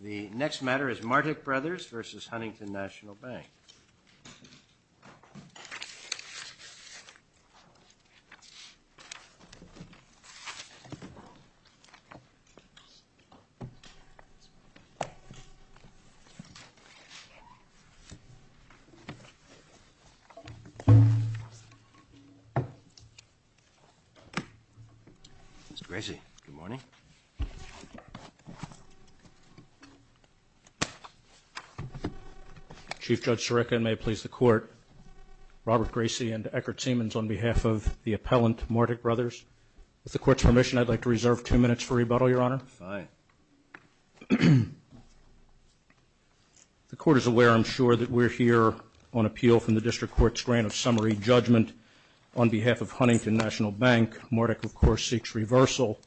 The next matter is Martik Brothers v. Huntington National Bank. Mr. Gracie, good morning. Chief Judge Sarekha, and may it please the Court, Robert Gracie and Eckert Siemens on behalf of the appellant Martik Brothers, with the Court's permission, I'd like to reserve two minutes for rebuttal, Your Honor. Fine. The Court is aware, I'm sure, that we're here on appeal from the District Court's grant of summary judgment on behalf of Huntington National Bank. Martik, of course, seeks reversal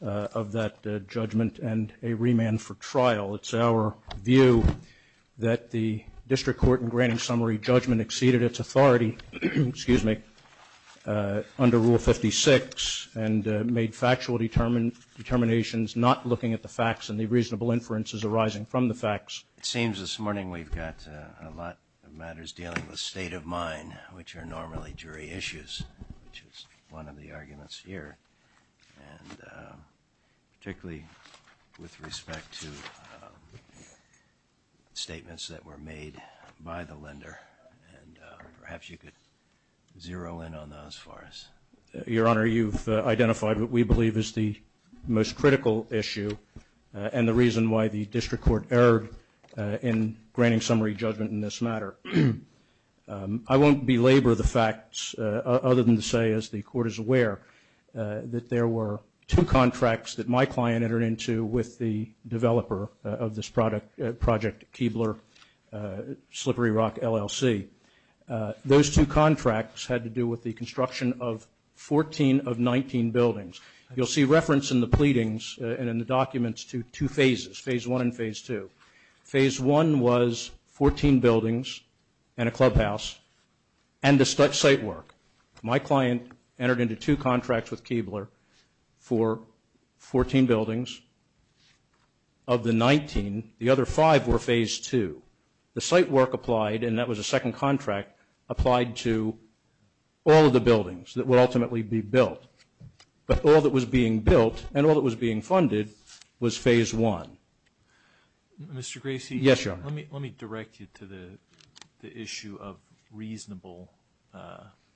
of that judgment and a remand for trial. It's our view that the District Court, in granting summary judgment, exceeded its authority under Rule 56 and made factual determinations, not looking at the facts and the reasonable inferences arising from the facts. It seems this morning we've got a lot of matters dealing with state of mind, which are normally jury issues, which is one of the arguments here, and particularly with respect to statements that were made by the lender, and perhaps you could zero in on those for us. Your Honor, you've identified what we believe is the most critical issue and the reason why the District Court erred in granting summary judgment in this matter. I won't belabor the facts, other than to say, as the Court is aware, that there were two contracts that my client entered into with the developer of this project, Keebler Slippery Rock, LLC. Those two contracts had to do with the construction of 14 of 19 buildings. You'll see reference in the pleadings and in the documents to two phases, Phase I and Phase II. Phase I was 14 buildings and a clubhouse and the site work. My client entered into two contracts with Keebler for 14 buildings. Of the 19, the other five were Phase II. The site work applied, and that was a second contract, applied to all of the buildings that would ultimately be built. But all that was being built and all that was being funded was Phase I. Mr. Gracie? Yes, Your Honor. Let me direct you to the issue of reasonable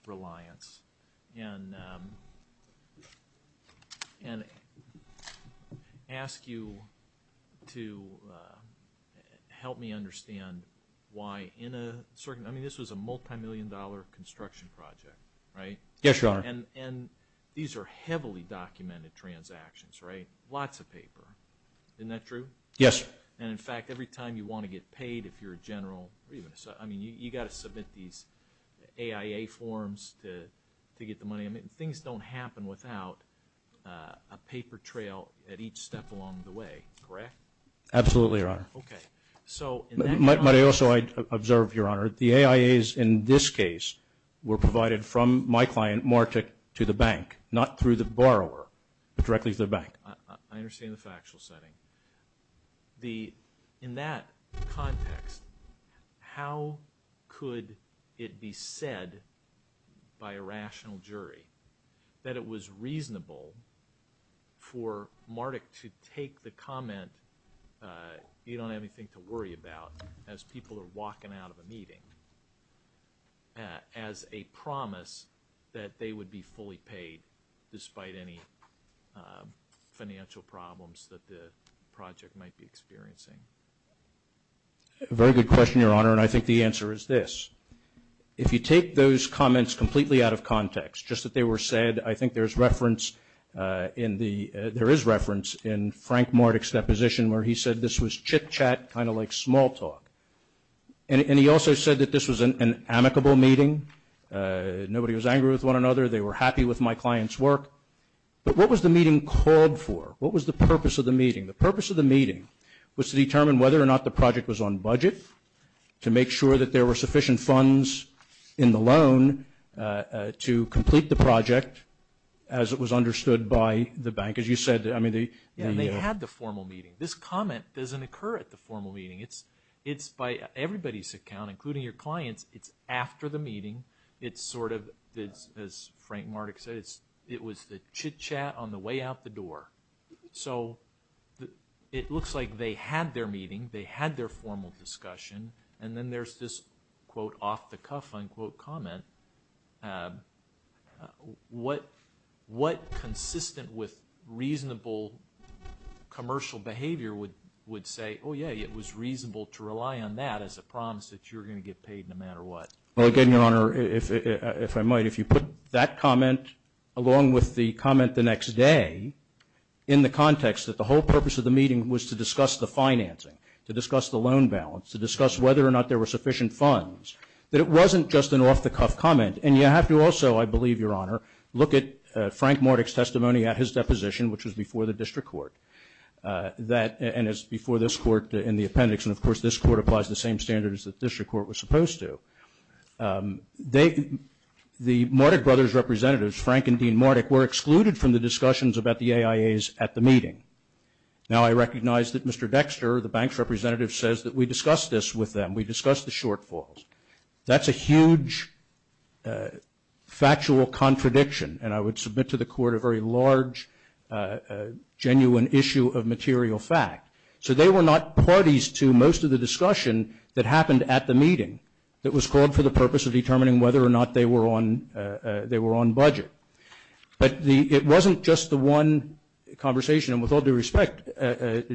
reliance and ask you to help me understand why in a certain – I mean, this was a multimillion-dollar construction project, right? Yes, Your Honor. And these are heavily documented transactions, right? Lots of paper. Isn't that true? Yes. And, in fact, every time you want to get paid, if you're a general – I mean, you've got to submit these AIA forms to get the money. I mean, things don't happen without a paper trail at each step along the way, correct? Absolutely, Your Honor. Okay. So – But also, I observe, Your Honor, the AIAs in this case were provided from my client Martek to the bank, not through the borrower, but directly to the bank. I understand the factual setting. In that context, how could it be said by a rational jury that it was reasonable for Martek to take the comment, you don't have anything to worry about as people are walking out of they would be fully paid despite any financial problems that the project might be experiencing? A very good question, Your Honor, and I think the answer is this. If you take those comments completely out of context, just that they were said, I think there's reference in the – there is reference in Frank Martek's deposition where he said this was chit-chat, kind of like small talk. And he also said that this was an amicable meeting. Nobody was angry with one another. They were happy with my client's work. But what was the meeting called for? What was the purpose of the meeting? The purpose of the meeting was to determine whether or not the project was on budget, to make sure that there were sufficient funds in the loan to complete the project as it was understood by the bank. As you said, I mean, the – Yeah, and they had the formal meeting. This comment doesn't occur at the formal meeting. It's by everybody's account, including your client's. It's after the meeting. It's sort of, as Frank Martek said, it was the chit-chat on the way out the door. So it looks like they had their meeting. They had their formal discussion. And then there's this, quote, off-the-cuff, unquote, comment. What consistent with reasonable commercial behavior would say, oh, yeah, it was reasonable to rely on that as a promise that you're going to get paid no matter what? Well, again, Your Honor, if I might, if you put that comment along with the comment the next day in the context that the whole purpose of the meeting was to discuss the financing, to discuss the loan balance, to discuss whether or not there were sufficient funds, that it And you have to also, I believe, Your Honor, look at Frank Martek's testimony at his deposition, which was before the district court, that – and it's before this court in the appendix. And, of course, this court applies the same standards that the district court was supposed to. The Martek brothers' representatives, Frank and Dean Martek, were excluded from the discussions about the AIAs at the meeting. Now I recognize that Mr. Dexter, the bank's representative, says that we discussed this with them. We discussed the shortfalls. That's a huge factual contradiction. And I would submit to the court a very large, genuine issue of material fact. So they were not parties to most of the discussion that happened at the meeting that was called for the purpose of determining whether or not they were on – they were on budget. But the – it wasn't just the one conversation, and with all due respect,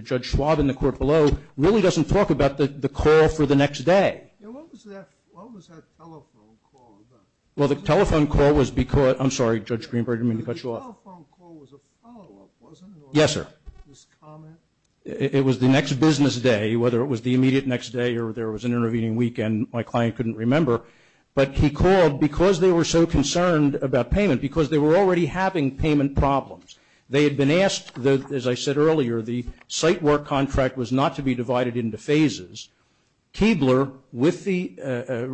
Judge Schwab in the court below really doesn't talk about the call for the next day. And what was that – what was that telephone call about? Well, the telephone call was because – I'm sorry, Judge Greenberg, I didn't mean to cut you off. The telephone call was a follow-up, wasn't it, or was it just a comment? Yes, sir. It was the next business day, whether it was the immediate next day or there was an intervening weekend my client couldn't remember. But he called because they were so concerned about payment, because they were already having payment problems. They had been asked – as I said earlier, the site work contract was not to be divided into phases. Keebler, with the –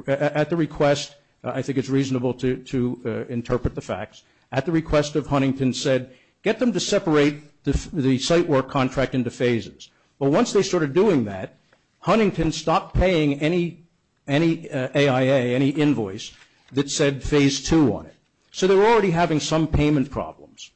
at the request – I think it's reasonable to interpret the facts – at the request of Huntington said, get them to separate the site work contract into phases. But once they started doing that, Huntington stopped paying any AIA, any invoice that said phase two on it. So they were already having some payment problems.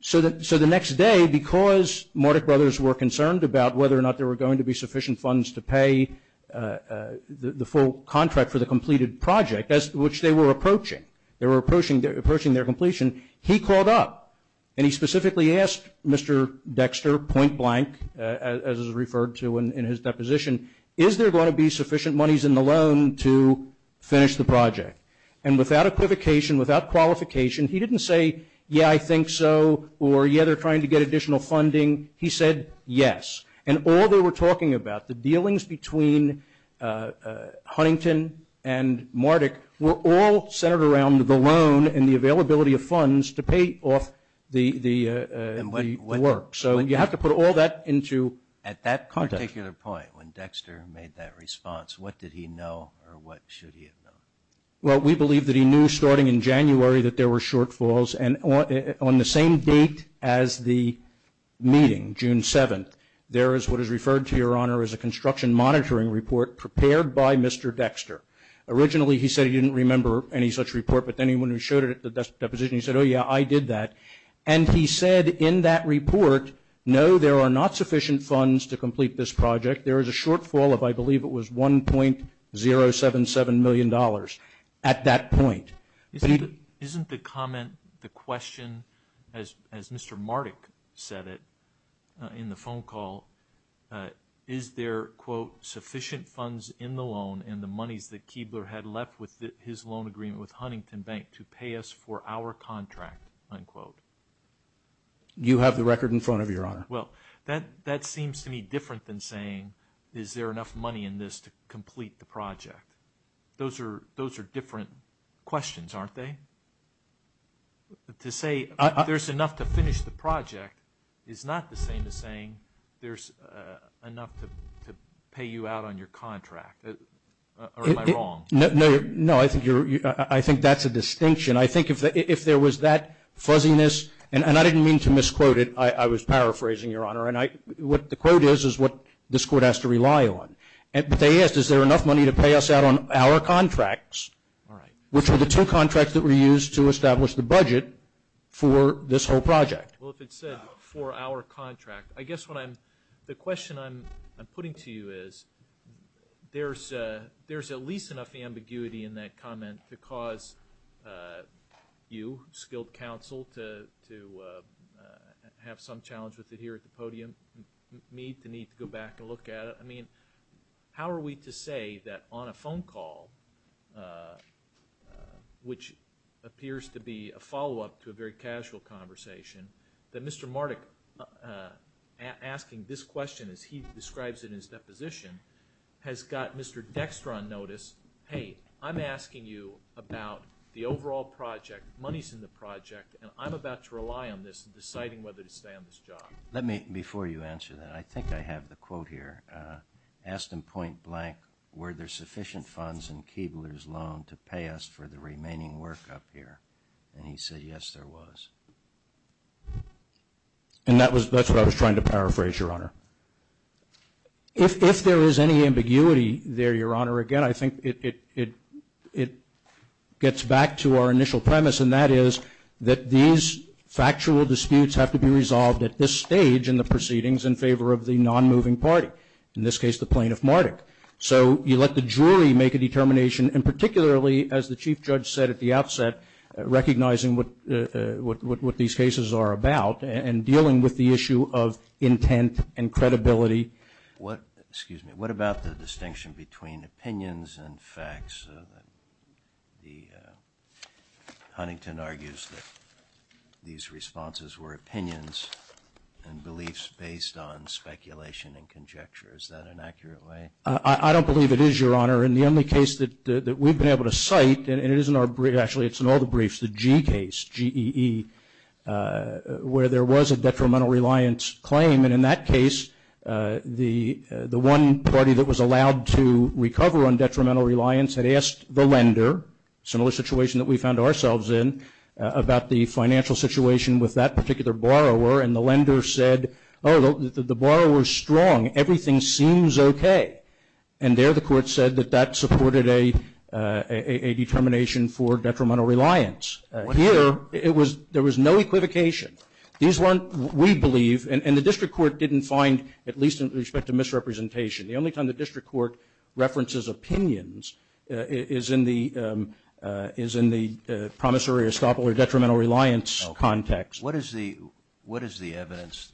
So the next day, because Mordech brothers were concerned about whether or not there would be enough money to pay the full contract for the completed project, which they were approaching. They were approaching their completion. He called up and he specifically asked Mr. Dexter, point blank, as is referred to in his deposition, is there going to be sufficient monies in the loan to finish the project? And without equivocation, without qualification, he didn't say, yeah, I think so, or, yeah, they're trying to get additional funding. He said yes. And all they were talking about, the dealings between Huntington and Mordech were all centered around the loan and the availability of funds to pay off the work. So you have to put all that into context. At that particular point, when Dexter made that response, what did he know or what should he have known? Well, we believe that he knew starting in January that there were shortfalls. And on the same date as the meeting, June 7th, there is what is referred to, Your Honor, as a construction monitoring report prepared by Mr. Dexter. Originally, he said he didn't remember any such report, but then when he showed it at the deposition, he said, oh, yeah, I did that. And he said in that report, no, there are not sufficient funds to complete this project. There is a shortfall of, I believe it was $1.077 million at that point. Isn't the comment, the question, as Mr. Mardek said it in the phone call, is there, quote, sufficient funds in the loan and the monies that Keebler had left with his loan agreement with Huntington Bank to pay us for our contract, unquote? You have the record in front of you, Your Honor. Well, that seems to me different than saying, is there enough money in this to complete the project? Those are different questions, aren't they? To say there's enough to finish the project is not the same as saying there's enough to pay you out on your contract, or am I wrong? No, I think that's a distinction. I think if there was that fuzziness, and I didn't mean to misquote it, I was paraphrasing, Your Honor, and what the quote is, is what this Court has to rely on. But they asked, is there enough money to pay us out on our contracts, which were the two contracts that were used to establish the budget for this whole project? Well, if it said for our contract, I guess the question I'm putting to you is, there's at least enough ambiguity in that comment to cause you, skilled counsel, to have some challenge with it here at the podium, me to need to go back and look at it. I mean, how are we to say that on a phone call, which appears to be a follow-up to a very casual conversation, that Mr. Marduk, asking this question as he describes it in his deposition, has got Mr. Dextra on notice, hey, I'm asking you about the overall project, money's in the project, and I'm about to rely on this in deciding whether to stay on this job. Let me, before you answer that, I think I have the quote here, asked in point blank, were there sufficient funds in Keebler's loan to pay us for the remaining work up here? And he said, yes, there was. And that was, that's what I was trying to paraphrase, Your Honor. If there is any ambiguity there, Your Honor, again, I think it gets back to our initial premise, and that is that these factual disputes have to be resolved at this stage in the proceedings in favor of the non-moving party, in this case, the plaintiff, Marduk. So you let the jury make a determination, and particularly, as the Chief Judge said at the outset, recognizing what these cases are about and dealing with the issue of intent and credibility. What, excuse me, what about the distinction between opinions and facts? The, Huntington argues that these responses were opinions and beliefs based on speculation and conjecture. Is that an accurate way? I don't believe it is, Your Honor. In the only case that we've been able to cite, and it is in our brief, actually it's in all the briefs, the G case, G-E-E, where there was a detrimental reliance claim, and in that case, the one party that was allowed to recover on detrimental reliance had asked the lender, similar situation that we found ourselves in, about the financial situation with that particular borrower, and the lender said, oh, the borrower's strong, everything seems okay. And there the court said that that supported a determination for detrimental reliance. Here, it was, there was no equivocation. These weren't, we believe, and the district court didn't find, at least in respect to misrepresentation, the only time the district court references opinions is in the promissory or estoppel or detrimental reliance context. What is the evidence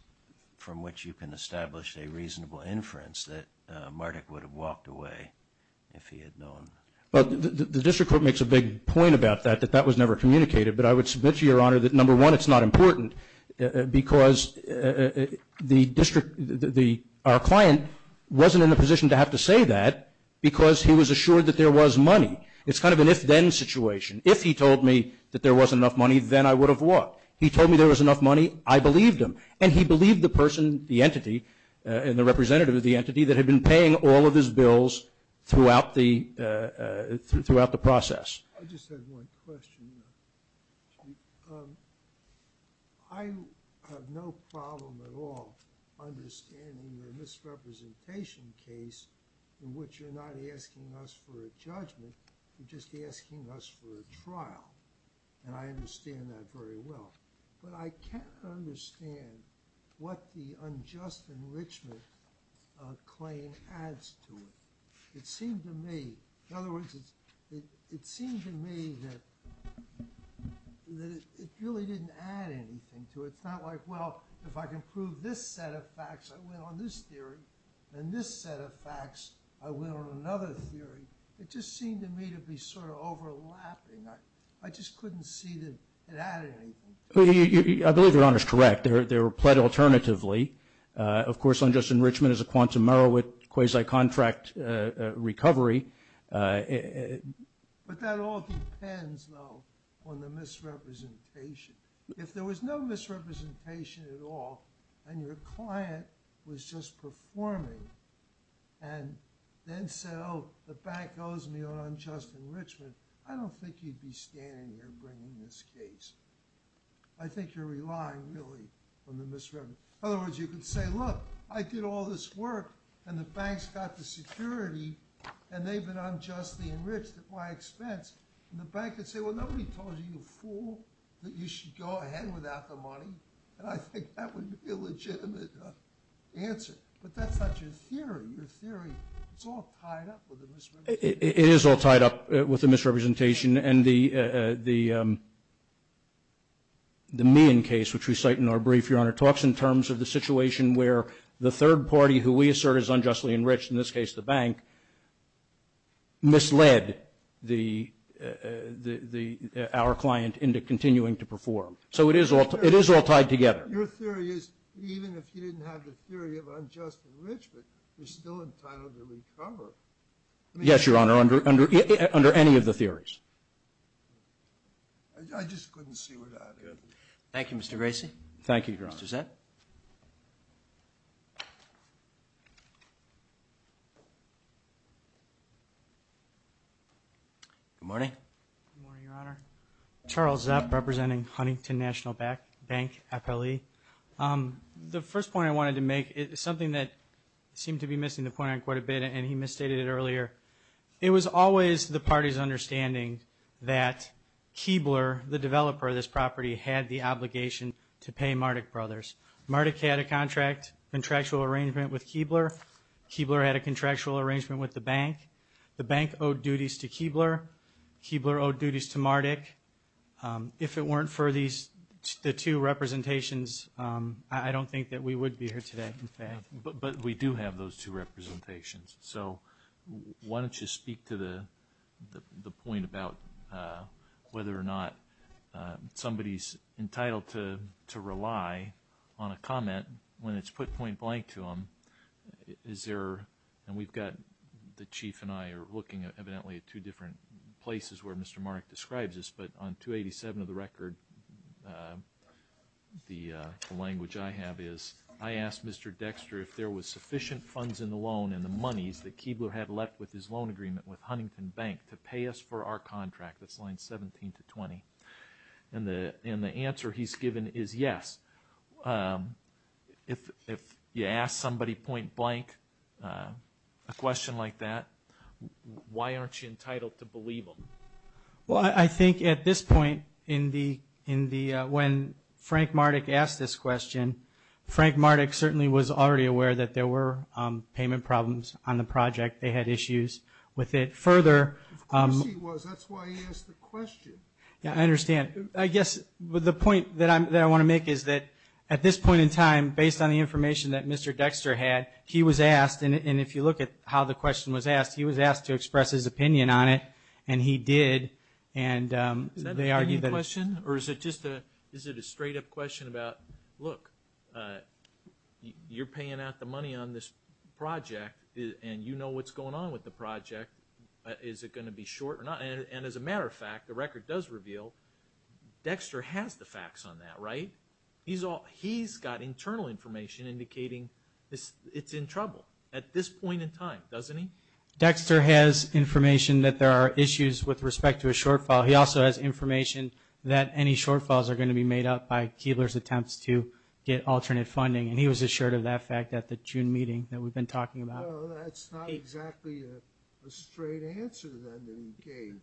from which you can establish a reasonable inference that Marduk would have walked away if he had known? The district court makes a big point about that, that that was never communicated, but I would submit to your honor that, number one, it's not important because the district, our client wasn't in a position to have to say that because he was assured that there was money. It's kind of an if-then situation. If he told me that there was enough money, then I would have walked. He told me there was enough money, I believed him, and he believed the person, the entity, and the representative of the entity that had been paying all of his bills throughout the process. I just had one question. I have no problem at all understanding your misrepresentation case in which you're not asking us for a judgment, you're just asking us for a trial, and I understand that very well, but I can't understand what the unjust enrichment claim adds to it. It seemed to me, in other words, it seemed to me that it really didn't add anything to it. It's not like, well, if I can prove this set of facts, I went on this theory, and this set of facts, I went on another theory. It just seemed to me to be sort of overlapping. I just couldn't see that it added anything. I believe your honor is correct. They were pled alternatively. Of course, unjust enrichment is a quantum error with quasi-contract recovery, but that all depends, though, on the misrepresentation. If there was no misrepresentation at all, and your client was just performing, and then said, oh, the bank owes me on unjust enrichment, I don't think you'd be standing here bringing this case. I think you're relying, really, on the misrepresentation. In other words, you could say, look, I did all this work, and the bank's got the security, and they've been unjustly enriched at my expense. And the bank could say, well, nobody told you, you fool, that you should go ahead without the money. And I think that would be a legitimate answer, but that's not your theory. Your theory, it's all tied up with the misrepresentation. It is all tied up with the misrepresentation, and the Meehan case, which we cite in our brief, Your Honor, talks in terms of the situation where the third party, who we assert is unjustly enriched, in this case, the bank, misled our client into continuing to perform. So it is all tied together. Your theory is, even if you didn't have the theory of unjust enrichment, you're still entitled to recover. Yes, Your Honor, under any of the theories. I just couldn't see where that is. Good. Thank you, Mr. Gracie. Thank you. Thank you, Your Honor. Mr. Zepp. Good morning. Good morning, Your Honor. Charles Zepp, representing Huntington National Bank, FLE. The first point I wanted to make is something that seemed to be missing the point on quite a bit, and he misstated it earlier. It was always the party's understanding that Keebler, the developer of this property, had the obligation to pay Mardik Brothers. Mardik had a contract, contractual arrangement with Keebler. Keebler had a contractual arrangement with the bank. The bank owed duties to Keebler. Keebler owed duties to Mardik. If it weren't for the two representations, I don't think that we would be here today, in fact. But we do have those two representations. So, why don't you speak to the point about whether or not somebody's entitled to rely on a comment when it's put point blank to them. Is there, and we've got, the Chief and I are looking evidently at two different places where Mr. Mardik describes this, but on 287 of the record, the language I have is, I asked Mr. Dexter if there was sufficient funds in the loan and the monies that Keebler had left with his loan agreement with Huntington Bank to pay us for our contract, that's line 17-20. And the answer he's given is yes. If you ask somebody point blank a question like that, why aren't you entitled to believe them? Well, I think at this point, when Frank Mardik asked this question, Frank Mardik certainly was already aware that there were payment problems on the project. They had issues with it. Further... Of course he was. That's why he asked the question. Yeah, I understand. I guess the point that I want to make is that at this point in time, based on the information that Mr. Dexter had, he was asked, and if you look at how the question was asked, he was asked to express his opinion on it, and he did. Is that an opinion question, or is it just a straight up question about, look, you're paying out the money on this project, and you know what's going on with the project. Is it going to be short or not? And as a matter of fact, the record does reveal, Dexter has the facts on that, right? He's got internal information indicating it's in trouble at this point in time, doesn't he? Dexter has information that there are issues with respect to a shortfall. He also has information that any shortfalls are going to be made up by Keillor's attempts to get alternate funding, and he was assured of that fact at the June meeting that we've been talking about. Well, that's not exactly a straight answer then that he gave,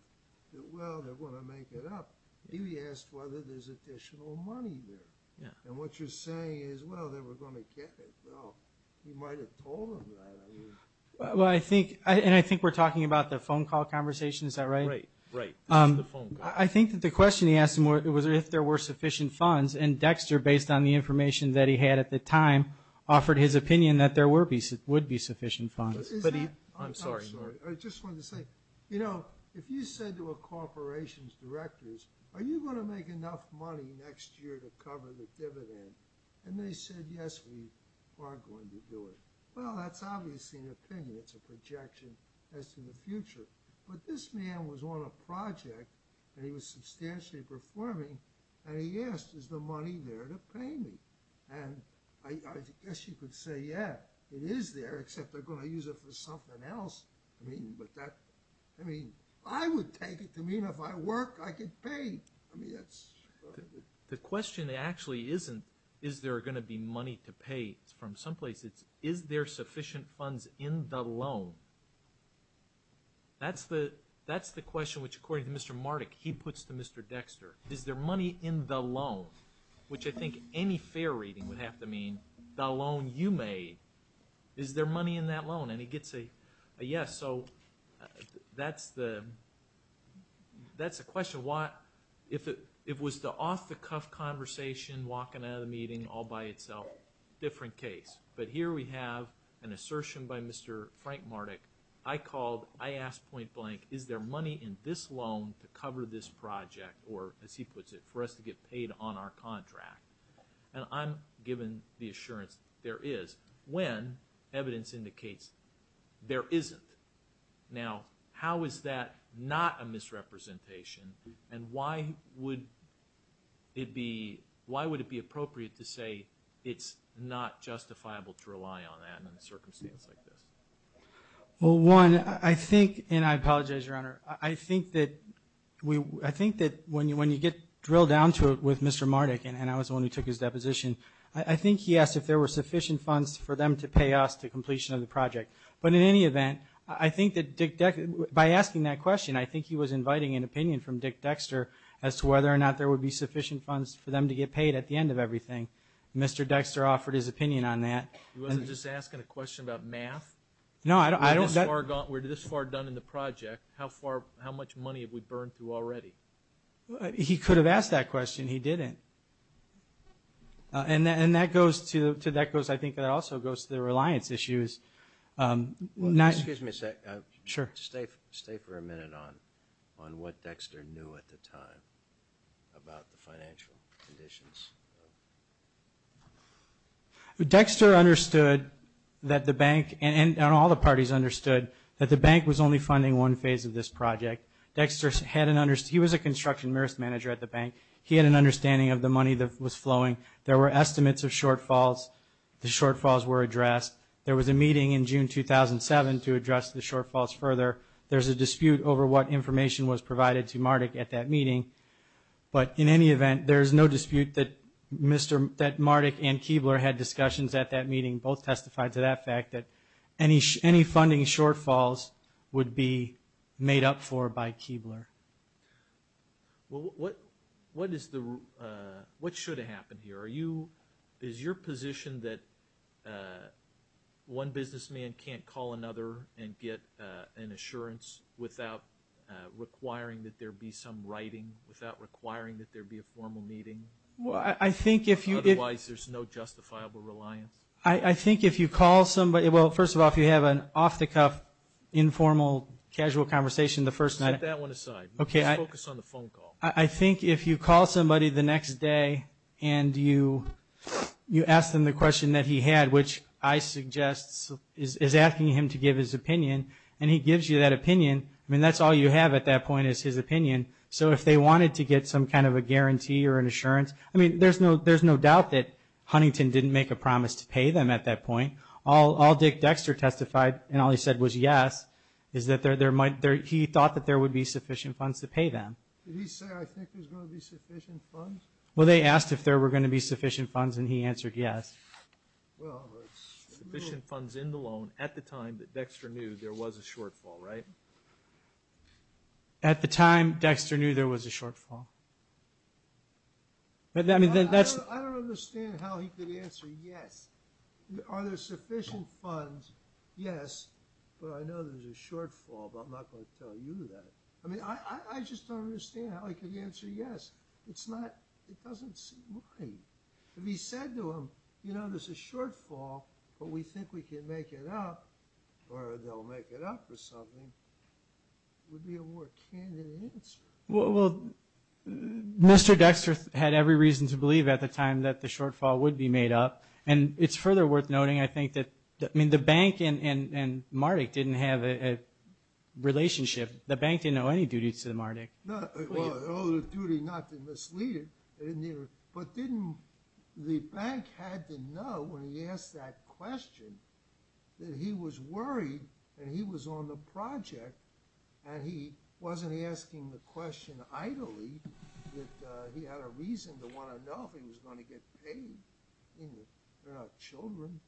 that, well, they're going to make it up. He asked whether there's additional money there. Yeah. And what you're saying is, well, they were going to get it. Well, he might have told them that, I mean... Well, I think... And I think we're talking about the phone call conversation, is that right? Right. Right. This is the phone call. I think that the question he asked him was if there were sufficient funds, and Dexter, based on the information that he had at the time, offered his opinion that there would be sufficient funds. Is that... I'm sorry. I'm sorry. I just wanted to say, you know, if you said to a corporation's directors, are you going to make enough money next year to cover the dividend? And they said, yes, we are going to do it. Well, that's obviously not going to happen. It's not going to happen. It's a projection. It's a projection. It's a projection as to the future. But this man was on a project, and he was substantially performing, and he asked, is the money there to pay me? And I guess you could say, yeah, it is there, except they're going to use it for something else. I mean, but that... I mean, I would take it to mean if I work, I get paid. I mean, that's... The question actually isn't, is there going to be money to pay? It's from some place. It's, is there sufficient funds in the loan? That's the question which, according to Mr. Mardik, he puts to Mr. Dexter. Is there money in the loan? Which I think any fair reading would have to mean the loan you made. Is there money in that loan? And he gets a yes. So that's the... That's the question. If it was the off-the-cuff conversation, walking out of the meeting all by itself, different case. But here we have an assertion by Mr. Frank Mardik, I called, I asked point-blank, is there money in this loan to cover this project, or as he puts it, for us to get paid on our contract? And I'm given the assurance there is, when evidence indicates there isn't. Now, how is that not a misrepresentation, and why would it be, why would it be appropriate to say it's not justifiable to rely on that in a circumstance like this? Well, one, I think, and I apologize, Your Honor, I think that when you get drilled down to it with Mr. Mardik, and I was the one who took his deposition, I think he asked if there were sufficient funds for them to pay us to completion of the project. But in any event, I think that Dick Dexter, by asking that question, I think he was inviting an opinion from Dick Dexter as to whether or not there would be sufficient funds for them to get paid at the end of everything. Mr. Dexter offered his opinion on that. He wasn't just asking a question about math? No, I don't... We're this far done in the project, how far, how much money have we burned through already? He could have asked that question, he didn't. And that goes to, I think that also goes to the reliance issues. Excuse me a second. Sure. Stay for a minute on what Dexter knew at the time about the financial conditions. Dexter understood that the bank, and all the parties understood, that the bank was only funding one phase of this project. Dexter had an, he was a construction merits manager at the bank, he had an understanding of the money that was flowing. There were estimates of shortfalls, the shortfalls were addressed. There was a meeting in June 2007 to address the shortfalls further. There's a dispute over what information was provided to Mardik at that meeting. But in any event, there's no dispute that Mardik and Keebler had discussions at that meeting. Both testified to that fact, that any funding shortfalls would be made up for by Keebler. Well, what is the, what should have happened here? Are you, is your position that one businessman can't call another and get an assurance without requiring that there be some writing, without requiring that there be a formal meeting? Well, I think if you. Otherwise, there's no justifiable reliance. I think if you call somebody, well, first of all, if you have an off-the-cuff, informal, casual conversation the first night. Set that one aside. Just focus on the phone call. I think if you call somebody the next day and you ask them the question that he had, which I suggest is asking him to give his opinion, and he gives you that opinion, I mean, that's all you have at that point is his opinion. So if they wanted to get some kind of a guarantee or an assurance, I mean, there's no doubt that Huntington didn't make a promise to pay them at that point. All Dick Dexter testified and all he said was yes, is that there might, he thought that there would be sufficient funds to pay them. Did he say, I think there's going to be sufficient funds? Well, they asked if there were going to be sufficient funds, and he answered yes. Well, sufficient funds in the loan at the time that Dexter knew there was a shortfall, right? At the time Dexter knew there was a shortfall. I don't understand how he could answer yes. Are there sufficient funds? Yes, but I know there's a shortfall, but I'm not going to tell you that. I mean, I just don't understand how he could answer yes. It's not, it doesn't seem right. If he said to them, you know, there's a shortfall, but we think we can make it up, or they'll make it up or something, it would be a more candid answer. Well, Mr. Dexter had every reason to believe at the time that the shortfall would be made up, and it's further worth noting, I think, that the bank and Mardik didn't have a relationship. The bank didn't owe any duties to Mardik. They owed a duty not to mislead him, but didn't the bank have to know when he asked that question that he was worried and he was on the project, and he wasn't asking the question idly, that he had a reason to want to know if he was going to get paid. I mean, they're not children.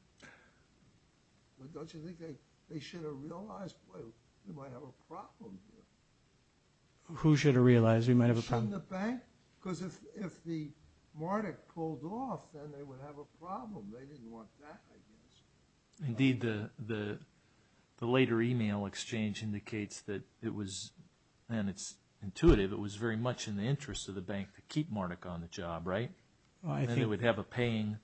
Don't you think they should have realized, boy, we might have a problem here? Who should have realized we might have a problem? Shouldn't the bank? Because if the Mardik pulled off, then they would have a problem. They didn't want that, I guess. Indeed, the later email exchange indicates that it was, and it's intuitive, it was very much in the interest of the bank to keep Mardik on the job, right? Then they would have a paying,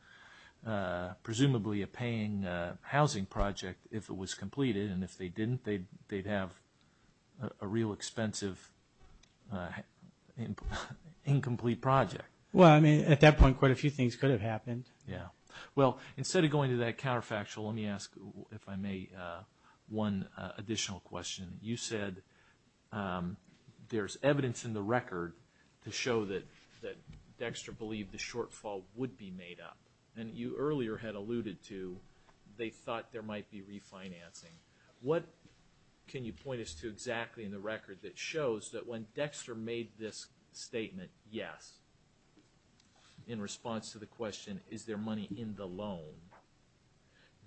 presumably a paying housing project if it was completed, and if they didn't, they'd have a real expensive incomplete project. Well, I mean, at that point, quite a few things could have happened. Yeah. Well, instead of going to that counterfactual, let me ask, if I may, one additional question. You said there's evidence in the record to show that Dexter believed the shortfall would be made up, and you earlier had alluded to they thought there might be refinancing. What can you point us to exactly in the record that shows that when Dexter made this statement, yes, in response to the question, is there money in the loan,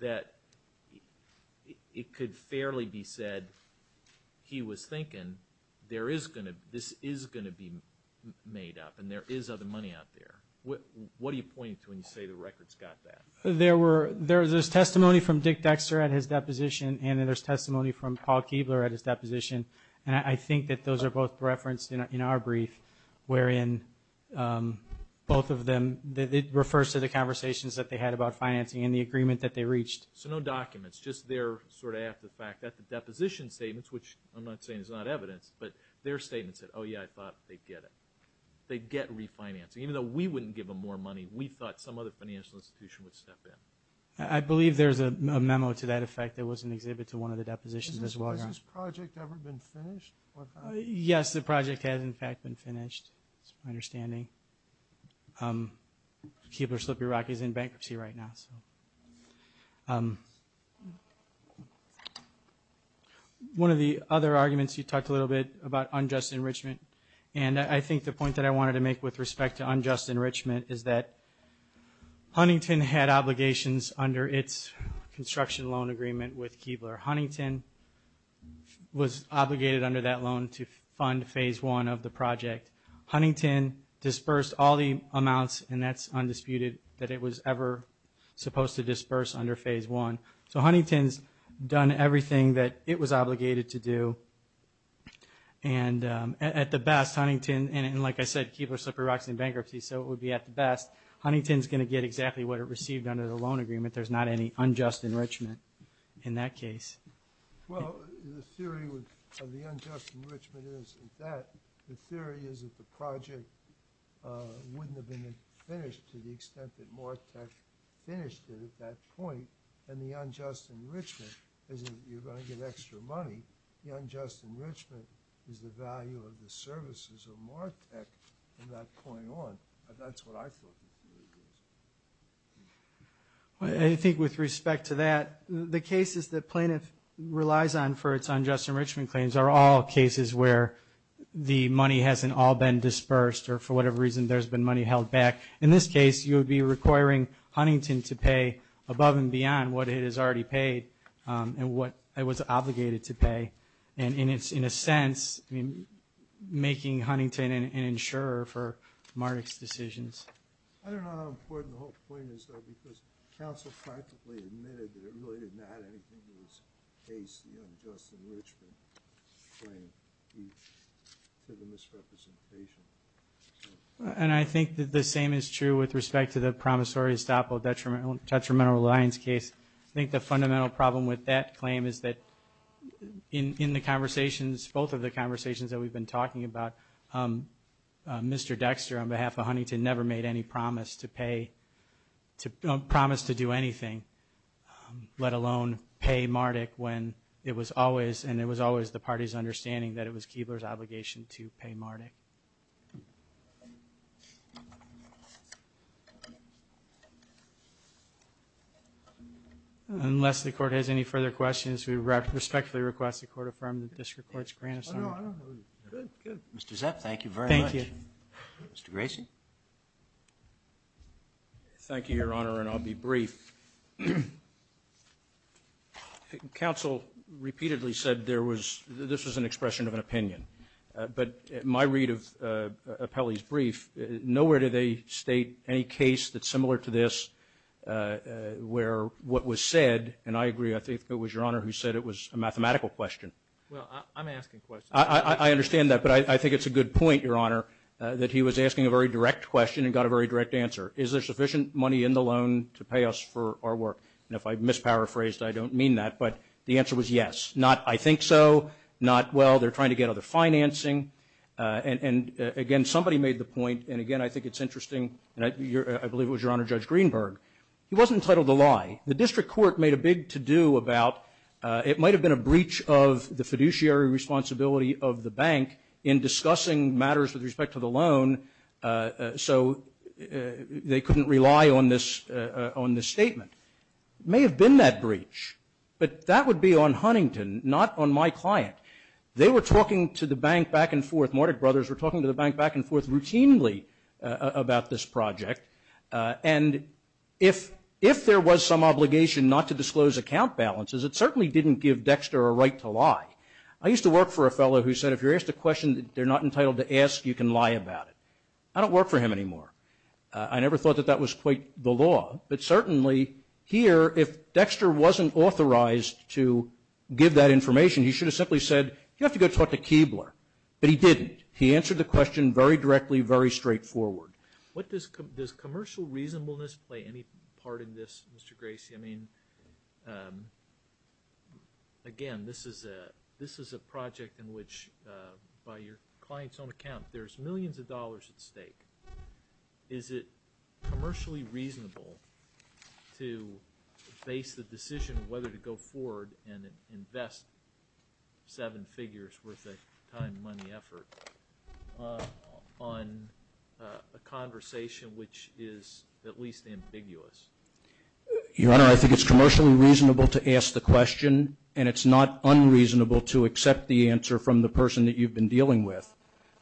that it could fairly be said he was thinking this is going to be made up and there is other money out there. What do you point to when you say the record's got that? There's testimony from Dick Dexter at his deposition, and then there's testimony from Paul Keebler at his deposition, and I think that those are both referenced in our brief, wherein both of them, it refers to the conversations that they had about financing and the agreement that they reached. So no documents, just they're sort of after the fact. At the deposition statements, which I'm not saying is not evidence, but their statement said, oh, yeah, I thought they'd get it. They'd get refinancing. Even though we wouldn't give them more money, we thought some other financial institution would step in. I believe there's a memo to that effect that was an exhibit to one of the depositions as well. Has this project ever been finished? Yes, the project has, in fact, been finished is my understanding. Keebler Slippery Rock is in bankruptcy right now. One of the other arguments you talked a little bit about unjust enrichment, and I think the point that I wanted to make with respect to unjust enrichment is that construction loan agreement with Keebler. Huntington was obligated under that loan to fund phase one of the project. Huntington dispersed all the amounts, and that's undisputed, that it was ever supposed to disperse under phase one. So Huntington's done everything that it was obligated to do, and at the best, Huntington, and like I said, Keebler Slippery Rock's in bankruptcy, so it would be at the best. Huntington's going to get exactly what it received under the loan agreement. There's not any unjust enrichment in that case. Well, the theory of the unjust enrichment is that the project wouldn't have been finished to the extent that Martek finished it at that point, and the unjust enrichment isn't you're going to get extra money. The unjust enrichment is the value of the services of Martek from that point on. That's what I thought. I think with respect to that, the cases that plaintiff relies on for its unjust enrichment claims are all cases where the money hasn't all been dispersed or for whatever reason there's been money held back. In this case, you would be requiring Huntington to pay above and beyond what it has already paid and what it was obligated to pay. In a sense, making Huntington an insurer for Martek's decisions. I don't know how important the whole point is, though, because counsel practically admitted that it really did not add anything to this case, the unjust enrichment claim due to the misrepresentation. I think that the same is true with respect to the promissory estoppel detrimental reliance case. I think the fundamental problem with that claim is that in the conversations, both of the conversations that we've been talking about, Mr. Dexter on behalf of Huntington never made any promise to do anything, let alone pay Martek when it was always, and it was always the party's understanding, that it was Keebler's obligation to pay Martek. Unless the court has any further questions, we respectfully request the court affirm the district court's grant assignment. Good, good. Mr. Zepp, thank you very much. Thank you. Mr. Grayson. Thank you, Your Honor, and I'll be brief. Counsel repeatedly said this was an expression of an opinion, but in my read of Apelli's brief, nowhere did they state any case that's similar to this where what was said, and I agree, I think it was Your Honor who said it was a mathematical question. Well, I'm asking questions. I understand that, but I think it's a good point, Your Honor, that he was asking a very direct question and got a very direct answer. Is there sufficient money in the loan to pay us for our work? And if I've misparaphrased, I don't mean that, but the answer was yes. Not I think so, not, well, they're trying to get other financing. And, again, somebody made the point, and, again, I think it's interesting, and I believe it was Your Honor, Judge Greenberg, he wasn't entitled to lie. The district court made a big to-do about it might have been a breach of the fiduciary responsibility of the bank in discussing matters with respect to the loan. So they couldn't rely on this statement. It may have been that breach, but that would be on Huntington, not on my client. They were talking to the bank back and forth, Mordech brothers were talking to the bank back and forth routinely about this project. And if there was some obligation not to disclose account balances, it certainly didn't give Dexter a right to lie. I used to work for a fellow who said if you're asked a question that they're not going to lie, I don't work for him anymore. I never thought that that was quite the law. But, certainly, here, if Dexter wasn't authorized to give that information, he should have simply said, you have to go talk to Keebler. But he didn't. He answered the question very directly, very straightforward. Does commercial reasonableness play any part in this, Mr. Gracie? I mean, again, this is a project in which, by your client's own account, there's millions of dollars at stake. Is it commercially reasonable to base the decision whether to go forward and invest seven figures worth of time, money, effort, on a conversation which is at least ambiguous? Your Honor, I think it's commercially reasonable to ask the question, and it's not unreasonable to accept the answer from the person that you've been dealing with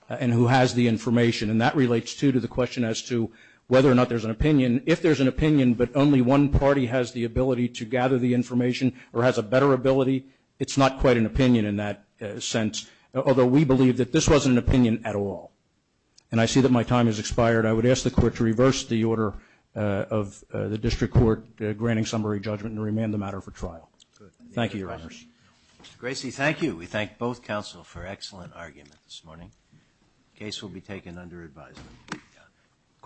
and who has the information. And that relates, too, to the question as to whether or not there's an opinion. If there's an opinion but only one party has the ability to gather the information or has a better ability, it's not quite an opinion in that sense, although we believe that this wasn't an opinion at all. And I see that my time has expired. I would ask the Court to reverse the order of the District Court granting summary judgment and remand the matter for trial. Thank you, Your Honors. Mr. Gracie, thank you. We thank both counsel for excellent argument this morning. The case will be taken under advisement.